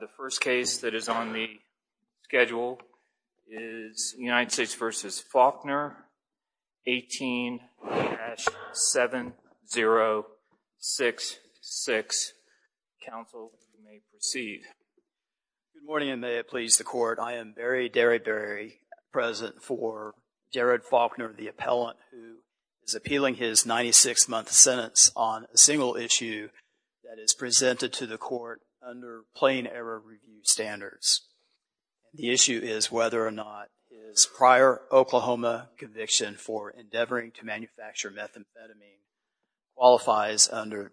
The first case that is on the schedule is United States v. Faulkner, 18-7066. Counsel, you may proceed. Good morning, and may it please the Court. I am Barry Derryberry, present for Jared Faulkner, the appellant, who is appealing his 96-month sentence on a single issue that is presented to the Court under plain error review standards. The issue is whether or not his prior Oklahoma conviction for endeavoring to manufacture methamphetamine qualifies under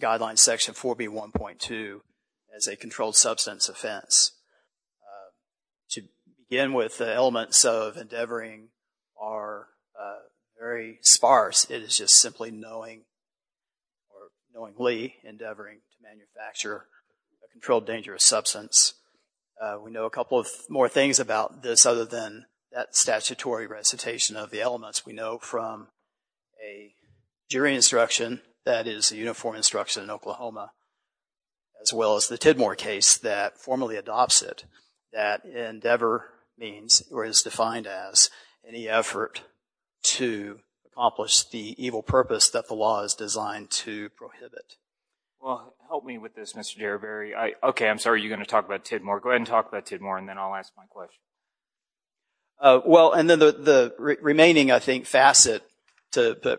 Guideline Section 4B.1.2 as a controlled substance offense. To begin with, the elements of endeavoring are very sparse. It is just simply knowingly endeavoring to manufacture a controlled dangerous substance. We know a couple more things about this other than that statutory recitation of the elements. We know from a jury instruction that is a uniform instruction in Oklahoma, as well as the Tidmore case that formally adopts it, that endeavor means or is defined as any effort to accomplish the evil purpose that the law is designed to prohibit. Well, help me with this, Mr. Derryberry. Okay, I'm sorry, you're going to talk about Tidmore. Go ahead and talk about Tidmore, and then I'll ask my question. Well, and then the remaining, I think, facet,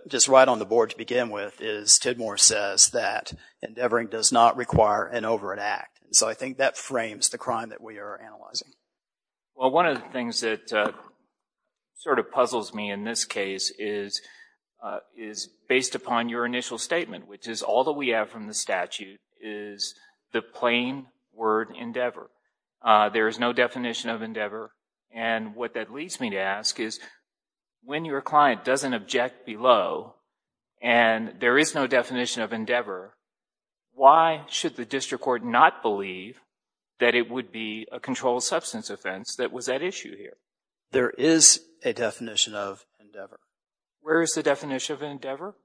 just right on the board to begin with, is Tidmore says that endeavoring does not require an overt act. So I think that frames the crime that we are analyzing. Well, one of the things that sort of puzzles me in this case is based upon your initial statement, which is all that we have from the statute is the plain word endeavor. There is no definition of endeavor, and what that leads me to ask is, when your client doesn't object below and there is no definition of endeavor, why should the district court not believe that it would be a controlled substance offense that was at issue here? There is a definition of endeavor. Where is the definition of endeavor?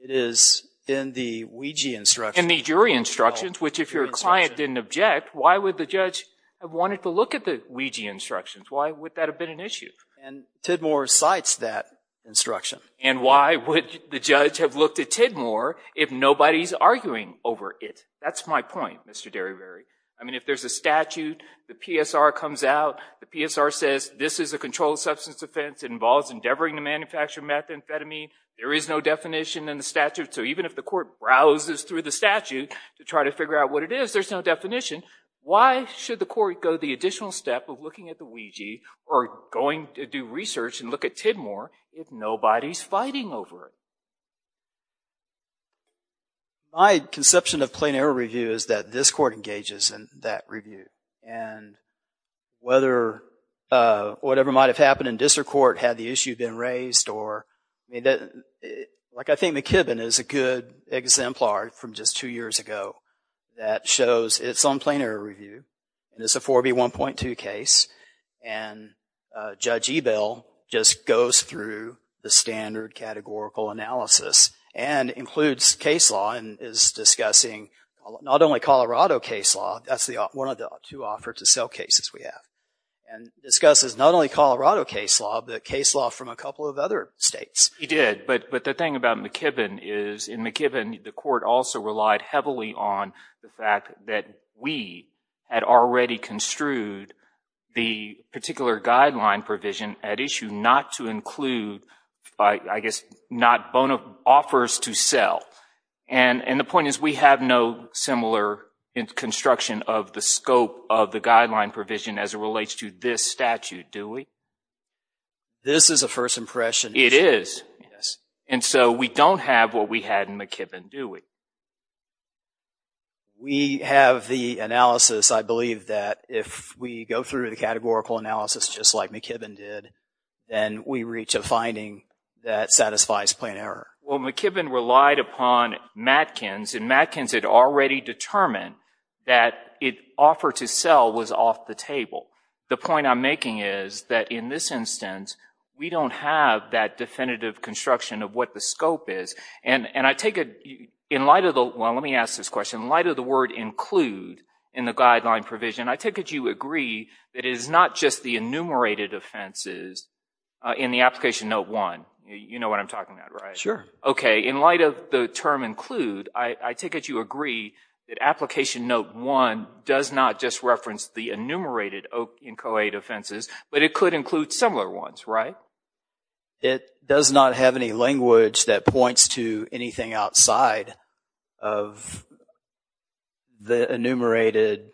It is in the Ouija instructions. In the jury instructions, which if your client didn't object, why would the judge have wanted to look at the Ouija instructions? Why would that have been an issue? And Tidmore cites that instruction. And why would the judge have looked at Tidmore if nobody's arguing over it? That's my point, Mr. Derryberry. I mean, if there's a statute, the PSR comes out. The PSR says this is a controlled substance offense. It involves endeavoring to manufacture methamphetamine. There is no definition in the statute. So even if the court browses through the statute to try to figure out what it is, there's no definition. Why should the court go the additional step of looking at the Ouija or going to do research and look at Tidmore if nobody's fighting over it? My conception of plain error review is that this court engages in that review. And whether whatever might have happened in district court had the issue been raised, or like I think McKibben is a good exemplar from just two years ago that shows it's on plain error review. And it's a 4B1.2 case. And Judge Ebell just goes through the standard categorical analysis and includes case law and is discussing not only Colorado case law. That's one of the two offers to sell cases we have. And discusses not only Colorado case law, but case law from a couple of other states. He did. But the thing about McKibben is in McKibben, the court also relied heavily on the fact that we had already construed the particular guideline provision at issue not to include, I guess, not offers to sell. And the point is we have no similar construction of the scope of the guideline provision as it relates to this statute, do we? This is a first impression. It is. Yes. And so we don't have what we had in McKibben, do we? We have the analysis, I believe, that if we go through the categorical analysis just like McKibben did, then we reach a finding that satisfies plain error. Well, McKibben relied upon Matkins, and Matkins had already determined that an offer to sell was off the table. The point I'm making is that in this instance, we don't have that definitive construction of what the scope is. And I take it in light of the – well, let me ask this question. In light of the word include in the guideline provision, I take it you agree that it is not just the enumerated offenses in the Application Note 1. You know what I'm talking about, right? Sure. Okay. In light of the term include, I take it you agree that Application Note 1 does not just reference the enumerated inchoate offenses, but it could include similar ones, right? It does not have any language that points to anything outside of the enumerated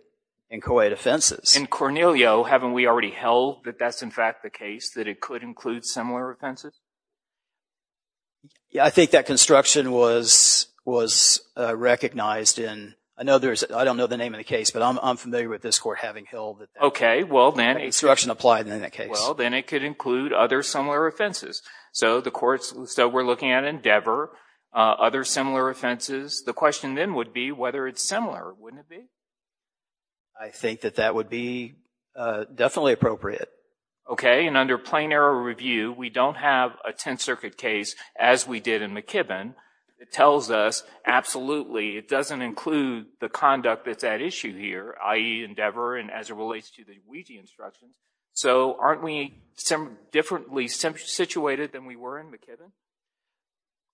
inchoate offenses. In Cornelio, haven't we already held that that's, in fact, the case, that it could include similar offenses? Yeah, I think that construction was recognized in – I know there's – I don't know the name of the case, but I'm familiar with this court having held that that construction applied in that case. Well, then it could include other similar offenses. So the courts – so we're looking at Endeavor, other similar offenses. The question then would be whether it's similar. Wouldn't it be? I think that that would be definitely appropriate. Okay. And under plain error review, we don't have a Tenth Circuit case as we did in McKibbin that tells us absolutely it doesn't include the conduct that's at issue here, i.e. Endeavor and as it relates to the Ouija instructions. So aren't we differently situated than we were in McKibbin?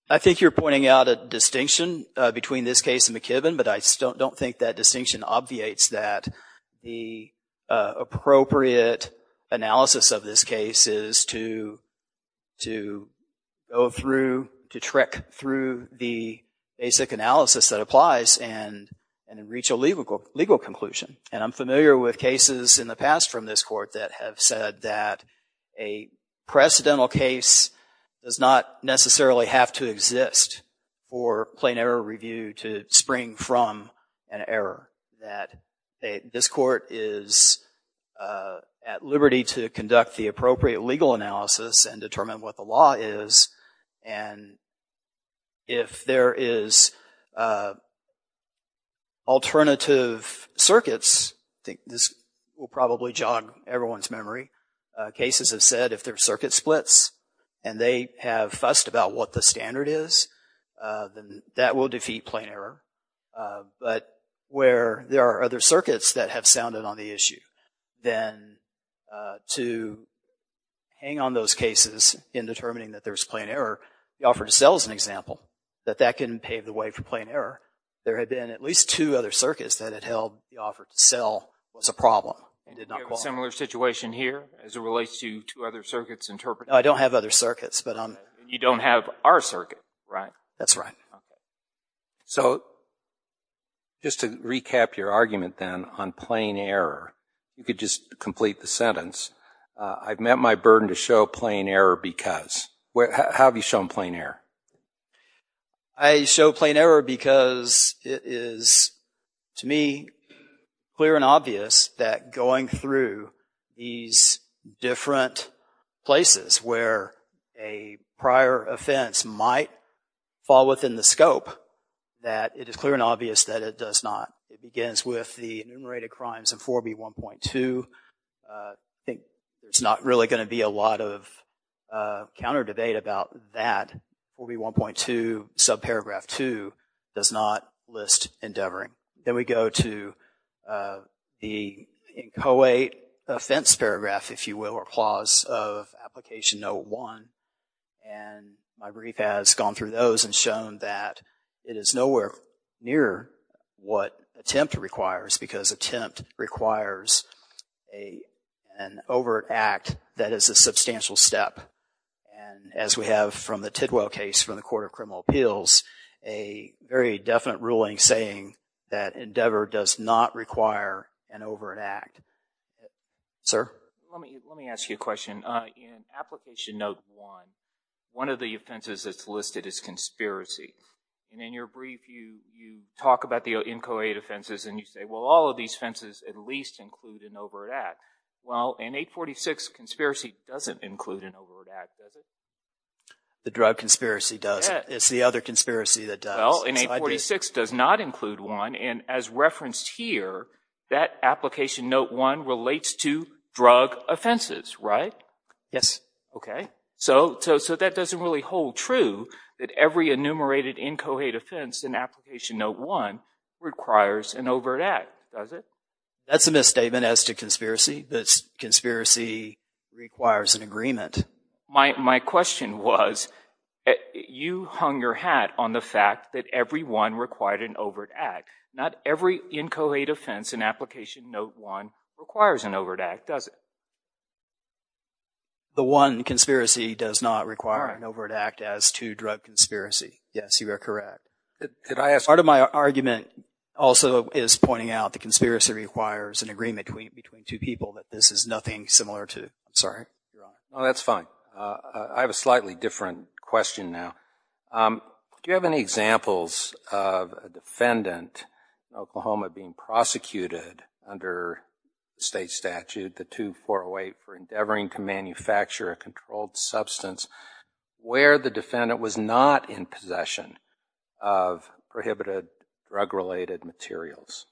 I think you're pointing out a distinction between this case and McKibbin, but I don't think that distinction obviates that. The appropriate analysis of this case is to go through, to trick through the basic analysis that applies and reach a legal conclusion. And I'm familiar with cases in the past from this court that have said that a precedental case does not necessarily have to exist for plain error review to spring from an error, that this court is at liberty to conduct the appropriate legal analysis and determine what the law is. And if there is alternative circuits, I think this will probably jog everyone's memory, cases have said if there are circuit splits and they have fussed about what the standard is, then that will defeat plain error. But where there are other circuits that have sounded on the issue, then to hang on those cases in determining that there's plain error, the offer to sell is an example, that that can pave the way for plain error. There had been at least two other circuits that had held the offer to sell was a problem. Do you have a similar situation here as it relates to two other circuits interpreted? I don't have other circuits. You don't have our circuit, right? That's right. So, just to recap your argument then on plain error, if you could just complete the sentence, I've met my burden to show plain error because. How have you shown plain error? I show plain error because it is, to me, clear and obvious that going through these different places where a prior offense might fall within the scope, that it is clear and obvious that it does not. It begins with the enumerated crimes of 4B1.2. I think there's not really going to be a lot of counter debate about that. 4B1.2 subparagraph 2 does not list endeavoring. Then we go to the inchoate offense paragraph, if you will, or clause of Application Note 1. And my brief has gone through those and shown that it is nowhere near what attempt requires because attempt requires an overt act that is a substantial step. And as we have from the Tidwell case from the Court of Criminal Appeals, this is a very definite ruling saying that endeavor does not require an overt act. Sir? Let me ask you a question. In Application Note 1, one of the offenses that's listed is conspiracy. And in your brief, you talk about the inchoate offenses and you say, well, all of these offenses at least include an overt act. Well, in 846, conspiracy doesn't include an overt act, does it? The drug conspiracy does. It's the other conspiracy that does. Well, in 846 does not include one. And as referenced here, that Application Note 1 relates to drug offenses, right? Yes. Okay. So that doesn't really hold true that every enumerated inchoate offense in Application Note 1 requires an overt act, does it? That's a misstatement as to conspiracy. Conspiracy requires an agreement. My question was you hung your hat on the fact that every one required an overt act. Not every inchoate offense in Application Note 1 requires an overt act, does it? The one conspiracy does not require an overt act as to drug conspiracy. Yes, you are correct. Part of my argument also is pointing out the conspiracy requires an agreement between two people that this is nothing similar to. I'm sorry? No, that's fine. I have a slightly different question now. Do you have any examples of a defendant in Oklahoma being prosecuted under state statute, the 2408, for endeavoring to manufacture a controlled substance where the defendant was not in possession of prohibited drug-related materials?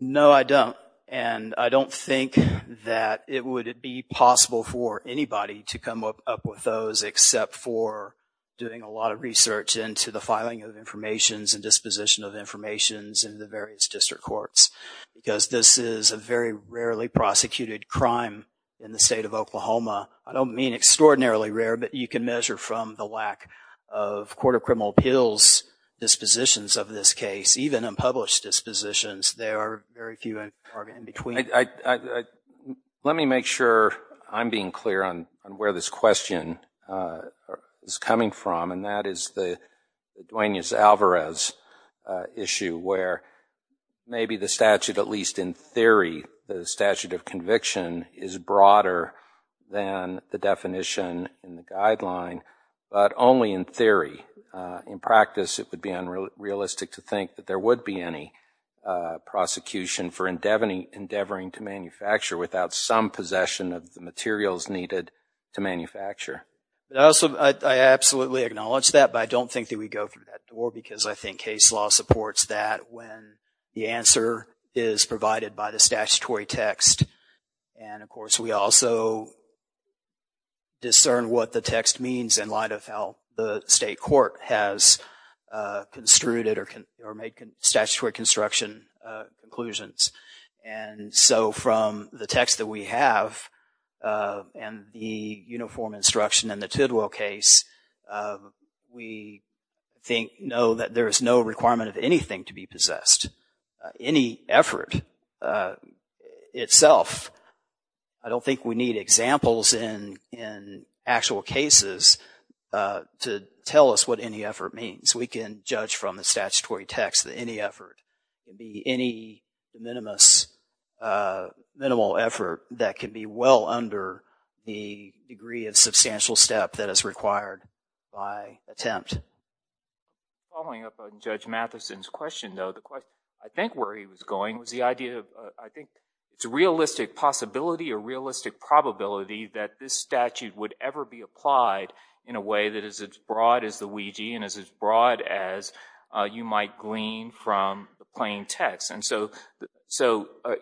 No, I don't. And I don't think that it would be possible for anybody to come up with those except for doing a lot of research into the filing of information and disposition of information in the various district courts because this is a very rarely prosecuted crime in the state of Oklahoma. I don't mean extraordinarily rare, but you can measure from the lack of court of criminal appeals dispositions of this case, even unpublished dispositions. There are very few in between. Let me make sure I'm being clear on where this question is coming from, and that is the Duenas-Alvarez issue where maybe the statute, at least in theory, the statute of conviction is broader than the definition in the guideline, but only in theory. In practice, it would be unrealistic to think that there would be any prosecution for endeavoring to manufacture without some possession of the materials needed to manufacture. I absolutely acknowledge that, but I don't think that we go through that door because I think case law supports that when the answer is provided by the statutory text. And, of course, we also discern what the text means in light of how the state court has construed it or made statutory construction conclusions. And so from the text that we have and the uniform instruction in the Tidwell case, we know that there is no requirement of anything to be possessed. Any effort itself, I don't think we need examples in actual cases to tell us what any effort means. We can judge from the statutory text that any effort can be any minimal effort that can be well under the degree of substantial step that is required by attempt. Following up on Judge Matheson's question, though, the question I think where he was going was the idea of I think it's a realistic possibility or realistic probability that this statute would ever be applied in a way that is as broad as the Ouija and is as broad as you might glean from the plain text. And so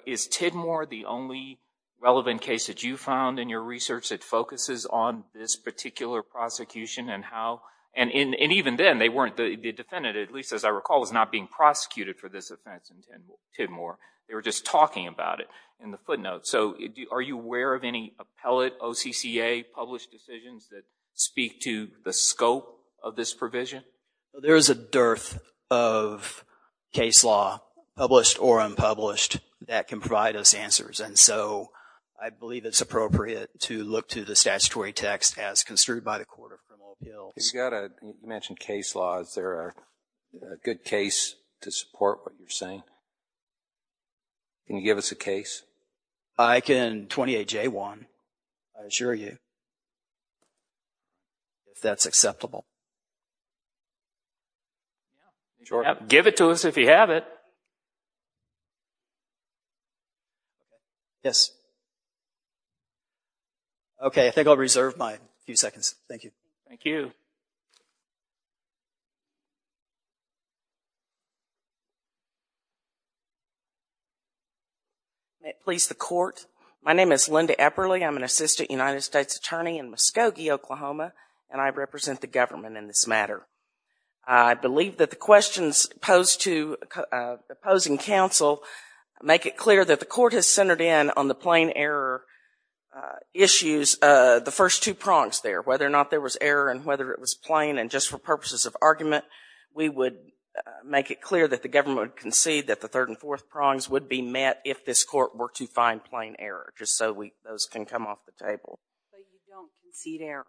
is Tidmore the only relevant case that you found in your research that focuses on this particular prosecution and how—and even then, they weren't—the defendant, at least as I recall, was not being prosecuted for this offense in Tidmore. They were just talking about it in the footnotes. So are you aware of any appellate OCCA-published decisions that speak to the scope of this provision? There is a dearth of case law, published or unpublished, that can provide us answers. And so I believe it's appropriate to look to the statutory text as construed by the Court of Criminal Appeals. You mentioned case law. Is there a good case to support what you're saying? Can you give us a case? I can 28J1, I assure you, if that's acceptable. Sure. Give it to us if you have it. Yes. Okay, I think I'll reserve my few seconds. Thank you. Thank you. May it please the Court, my name is Linda Epperle. I'm an assistant United States attorney in Muskogee, Oklahoma, and I represent the government in this matter. I believe that the questions posed to opposing counsel make it clear that the Court has centered in on the plain error issues, the first two prongs there, whether or not there was error and whether it was plain. And just for purposes of argument, we would make it clear that the government would concede that the third and fourth prongs would be met if this Court were to find plain error, just so those can come off the table. So you don't concede error?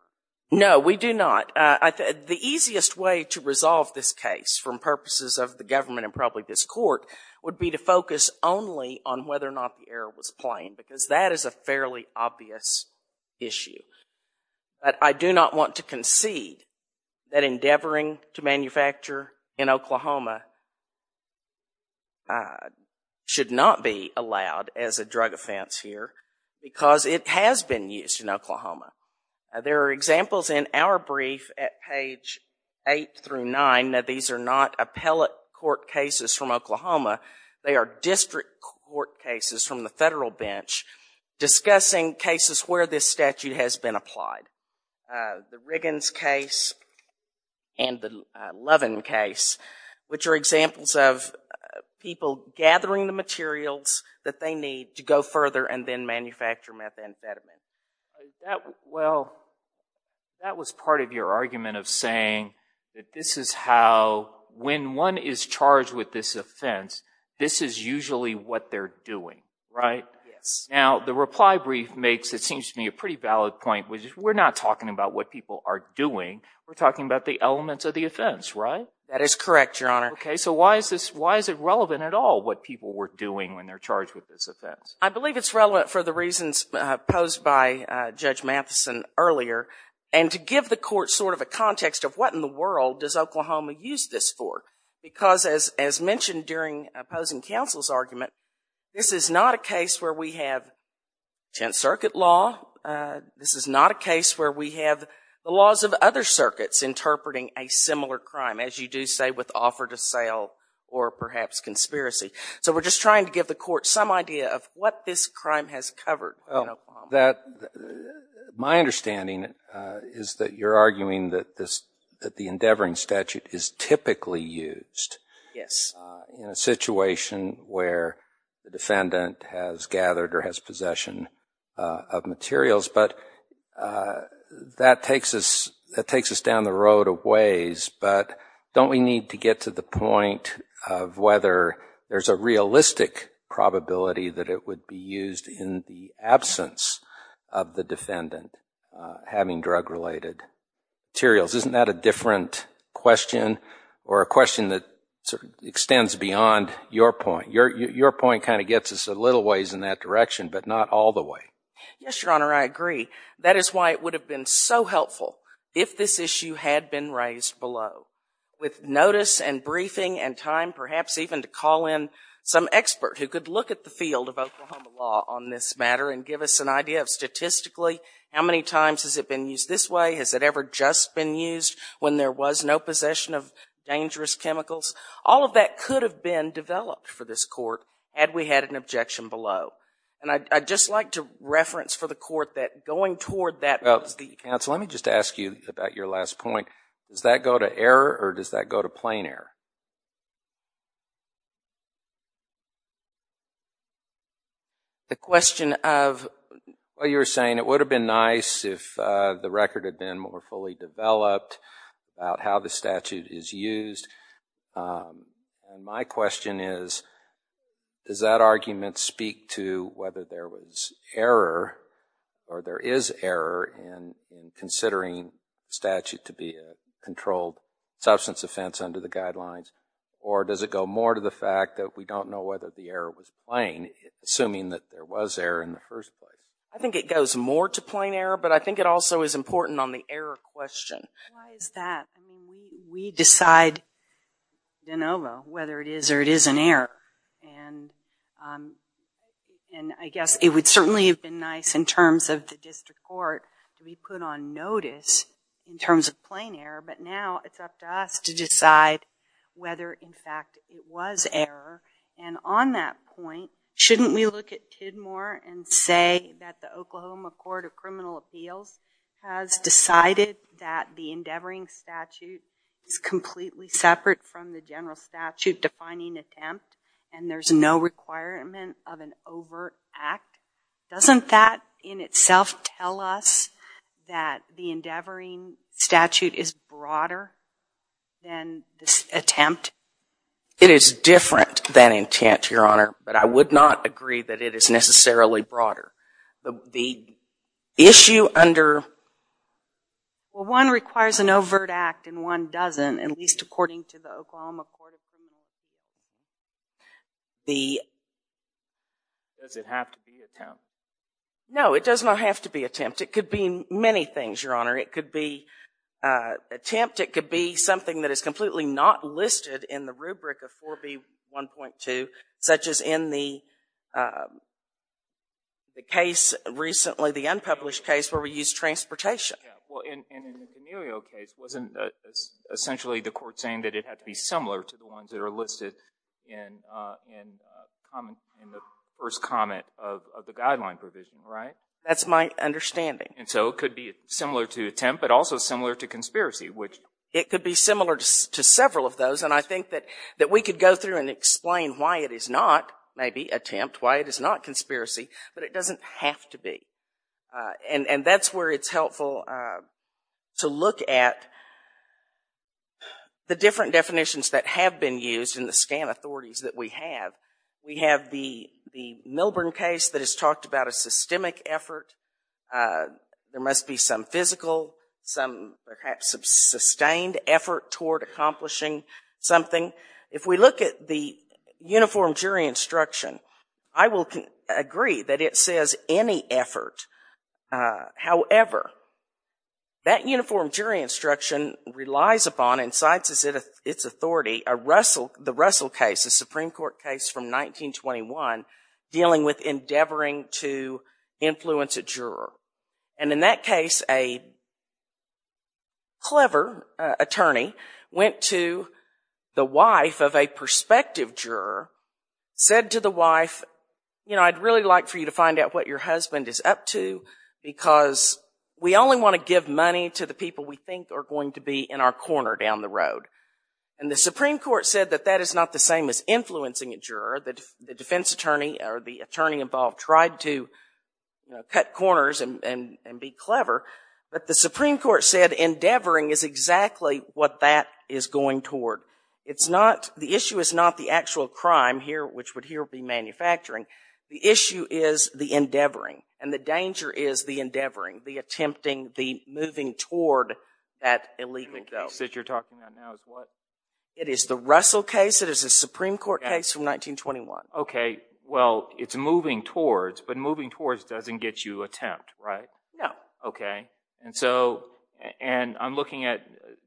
No, we do not. The easiest way to resolve this case, for purposes of the government and probably this Court, would be to focus only on whether or not the error was plain, because that is a fairly obvious issue. But I do not want to concede that endeavoring to manufacture in Oklahoma should not be allowed as a drug offense here, because it has been used in Oklahoma. There are examples in our brief at page 8 through 9 that these are not appellate court cases from Oklahoma, they are district court cases from the federal bench discussing cases where this statute has been applied. The Riggins case and the Levin case, which are examples of people gathering the materials that they need to go further and then manufacture methamphetamine. Well, that was part of your argument of saying that this is how, when one is charged with this offense, this is usually what they're doing, right? Yes. Now, the reply brief makes, it seems to me, a pretty valid point. We're not talking about what people are doing, we're talking about the elements of the offense, right? That is correct, Your Honor. Okay, so why is it relevant at all what people were doing when they're charged with this offense? I believe it's relevant for the reasons posed by Judge Matheson earlier, and to give the court sort of a context of what in the world does Oklahoma use this for, because as mentioned during opposing counsel's argument, this is not a case where we have 10th Circuit law, this is not a case where we have the laws of other circuits interpreting a similar crime, as you do say with offer to sale or perhaps conspiracy. So we're just trying to give the court some idea of what this crime has covered in Oklahoma. My understanding is that you're arguing that the endeavoring statute is typically used in a situation where the defendant has gathered or has possession of materials, but that takes us down the road of ways, but don't we need to get to the point of whether there's a realistic probability that it would be used in the absence of the defendant having drug-related materials? Isn't that a different question or a question that extends beyond your point? Your point kind of gets us a little ways in that direction, but not all the way. Yes, Your Honor, I agree. That is why it would have been so helpful if this issue had been raised below, with notice and briefing and time perhaps even to call in some expert who could look at the field of Oklahoma law on this matter and give us an idea of statistically how many times has it been used this way? Has it ever just been used when there was no possession of dangerous chemicals? All of that could have been developed for this court had we had an objection below. And I'd just like to reference for the court that going toward that— Counsel, let me just ask you about your last point. Does that go to error or does that go to plain error? The question of— Well, you were saying it would have been nice if the record had been more fully developed about how the statute is used. And my question is, does that argument speak to whether there was error or there is error in considering statute to be a controlled substance offense under the guidelines? Or does it go more to the fact that we don't know whether the error was plain, assuming that there was error in the first place? I think it goes more to plain error, but I think it also is important on the error question. Why is that? I mean, we decide de novo whether it is or it isn't error. And I guess it would certainly have been nice in terms of the district court to be put on notice in terms of plain error, but now it's up to us to decide whether, in fact, it was error. And on that point, shouldn't we look at Tidmore and say that the Oklahoma Court of Criminal Appeals has decided that the endeavoring statute is completely separate from the general statute-defining attempt and there's no requirement of an overt act? Doesn't that in itself tell us that the endeavoring statute is broader than this attempt? It is different than intent, Your Honor, but I would not agree that it is necessarily broader. The issue under- Well, one requires an overt act and one doesn't, at least according to the Oklahoma Court of Criminal Appeals. Does it have to be attempt? No, it does not have to be attempt. It could be many things, Your Honor. It could be attempt, it could be something that is completely not listed in the rubric of 4B1.2, such as in the case recently, the unpublished case where we used transportation. Well, in the D'Amelio case, wasn't essentially the court saying that it had to be similar to the ones that are listed in the first comment of the guideline provision, right? That's my understanding. And so it could be similar to attempt, but also similar to conspiracy, which- why it is not maybe attempt, why it is not conspiracy, but it doesn't have to be. And that's where it's helpful to look at the different definitions that have been used in the scan authorities that we have. We have the Milburn case that has talked about a systemic effort. There must be some physical, some perhaps sustained effort toward accomplishing something. If we look at the uniform jury instruction, I will agree that it says any effort. However, that uniform jury instruction relies upon and cites as its authority the Russell case, the Supreme Court case from 1921, dealing with endeavoring to influence a juror. And in that case, a clever attorney went to the wife of a prospective juror, said to the wife, you know, I'd really like for you to find out what your husband is up to, because we only want to give money to the people we think are going to be in our corner down the road. And the Supreme Court said that that is not the same as influencing a juror. The defense attorney or the attorney involved tried to cut corners and be clever, but the Supreme Court said endeavoring is exactly what that is going toward. It's not, the issue is not the actual crime here, which would here be manufacturing. The issue is the endeavoring, and the danger is the endeavoring, the attempting, the moving toward that illegal go. The case that you're talking about now is what? It is the Russell case. It is a Supreme Court case from 1921. Okay. Well, it's moving towards, but moving towards doesn't get you attempt, right? No. Okay. And so, and I'm looking at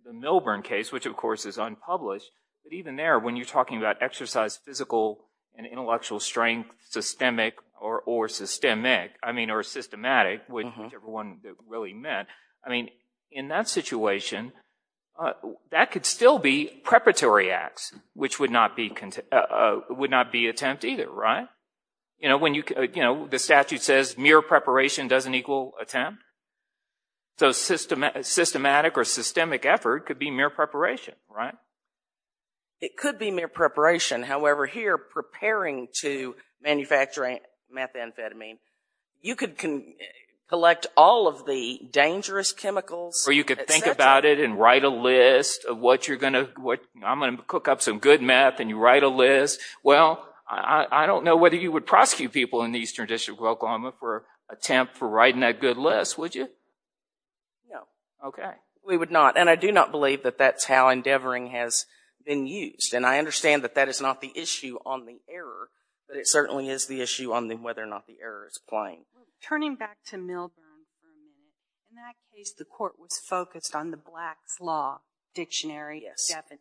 the Milburn case, which of course is unpublished, but even there, when you're talking about exercise physical and intellectual strength, systemic or systemic, which everyone really meant, I mean, in that situation, that could still be preparatory acts, which would not be attempt either, right? You know, the statute says mere preparation doesn't equal attempt. So systematic or systemic effort could be mere preparation, right? It could be mere preparation. However, here, preparing to manufacture methamphetamine, you could collect all of the dangerous chemicals. Or you could think about it and write a list of what you're going to, I'm going to cook up some good meth and you write a list. Well, I don't know whether you would prosecute people in the Eastern District of Oklahoma for attempt for writing that good list, would you? No. Okay. We would not. And I do not believe that that's how endeavoring has been used. And I understand that that is not the issue on the error, but it certainly is the issue on whether or not the error is plain. Turning back to Milburn, in that case, the court was focused on the Black's Law Dictionary definition.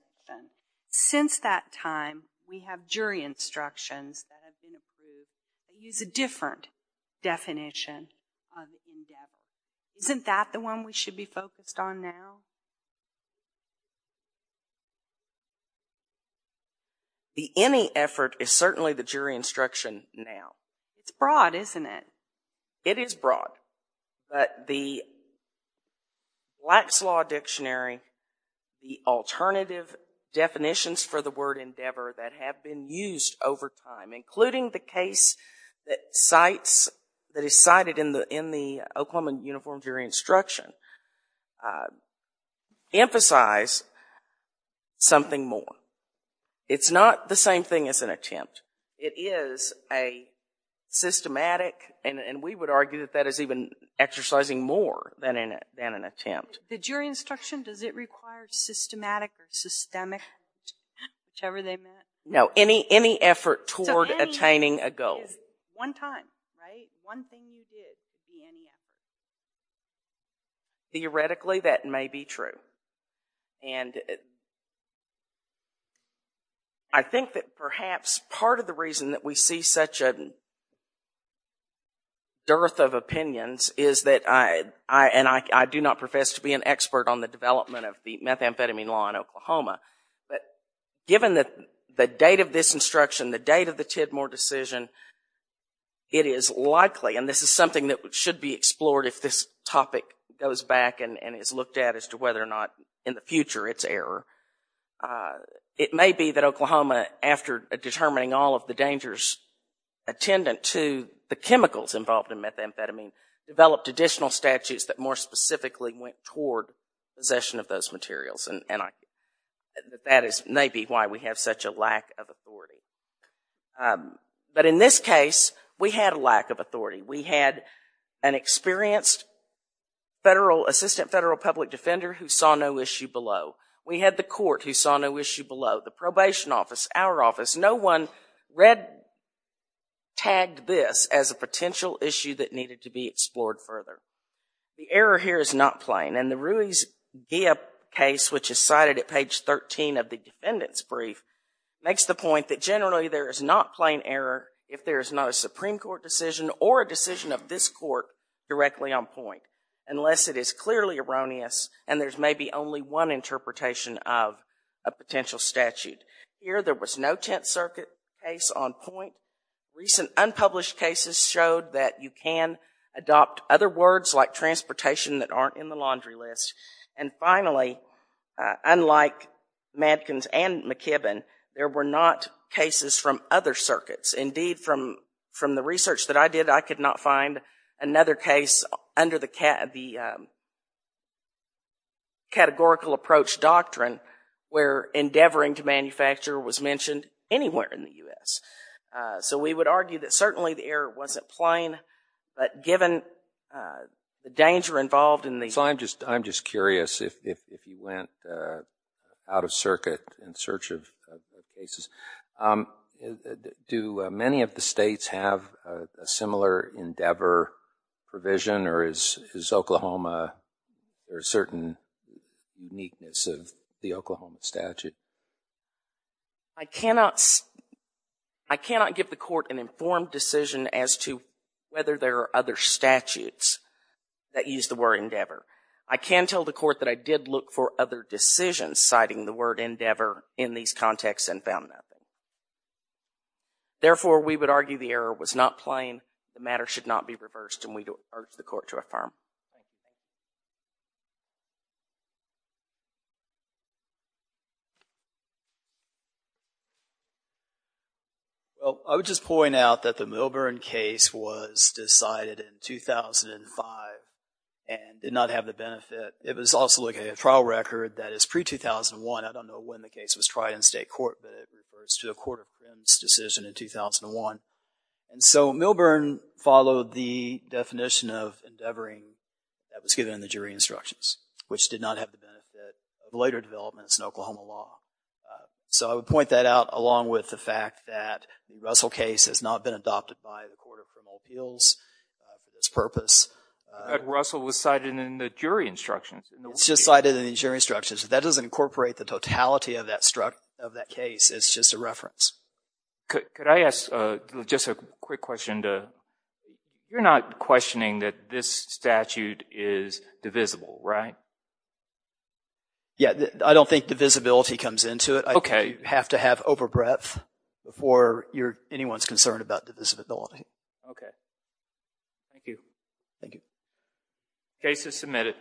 Since that time, we have jury instructions that have been approved that use a different definition of endeavor. Isn't that the one we should be focused on now? The any effort is certainly the jury instruction now. It's broad, isn't it? It is broad, but the Black's Law Dictionary, the alternative definitions for the word endeavor that have been used over time, including the case that is cited in the Oklahoma Uniform Jury Instruction, emphasize something more. It's not the same thing as an attempt. It is a systematic, and we would argue that that is even exercising more than an attempt. The jury instruction, does it require systematic or systemic, whichever they meant? No, any effort toward attaining a goal. So any effort is one time, right? One thing you did. Any effort. Theoretically, that may be true. And I think that perhaps part of the reason that we see such a dearth of opinions is that, and I do not profess to be an expert on the development of the methamphetamine law in Oklahoma, but given the date of this instruction, the date of the Tidmore decision, it is likely, and this is something that should be explored if this topic goes back and is looked at as to whether or not in the future it's error. It may be that Oklahoma, after determining all of the dangers attendant to the chemicals involved in methamphetamine, developed additional statutes that more specifically went toward possession of those materials, and that is maybe why we have such a lack of authority. But in this case, we had a lack of authority. We had an experienced federal, assistant federal public defender who saw no issue below. We had the court who saw no issue below, the probation office, our office. No one read, tagged this as a potential issue that needed to be explored further. The error here is not plain, and the Ruiz-Ghia case, which is cited at page 13 of the defendant's brief, makes the point that generally there is not plain error if there is not a Supreme Court decision or a decision of this court directly on point, unless it is clearly erroneous and there's maybe only one interpretation of a potential statute. Here, there was no Tenth Circuit case on point. Recent unpublished cases showed that you can adopt other words like transportation that aren't in the laundry list. And finally, unlike Matkins and McKibbin, there were not cases from other circuits. Indeed, from the research that I did, I could not find another case under the categorical approach doctrine where endeavoring to manufacture was mentioned anywhere in the U.S. So we would argue that certainly the error wasn't plain, but given the danger involved in the- So I'm just curious, if you went out of circuit in search of cases, do many of the states have a similar endeavor provision, or is Oklahoma a certain uniqueness of the Oklahoma statute? I cannot give the court an informed decision as to whether there are other statutes that use the word endeavor. I can tell the court that I did look for other decisions citing the word endeavor in these contexts and found nothing. Therefore, we would argue the error was not plain. The matter should not be reversed, and we urge the court to affirm. I would just point out that the Milburn case was decided in 2005 and did not have the benefit. It was also looking at a trial record that is pre-2001. I don't know when the case was tried in state court, but it refers to the Court of Criminals' decision in 2001. And so Milburn followed the definition of endeavoring that was given in the jury instructions, which did not have the benefit of later developments in Oklahoma law. So I would point that out, along with the fact that the Russell case has not been adopted by the Court of Criminal Appeals for this purpose. But Russell was cited in the jury instructions. It's just cited in the jury instructions. That doesn't incorporate the totality of that case. It's just a reference. Could I ask just a quick question? You're not questioning that this statute is divisible, right? Yeah, I don't think divisibility comes into it. Okay. You have to have over breadth before anyone's concerned about divisibility. Okay. Thank you. Thank you. Case is submitted. Thank you.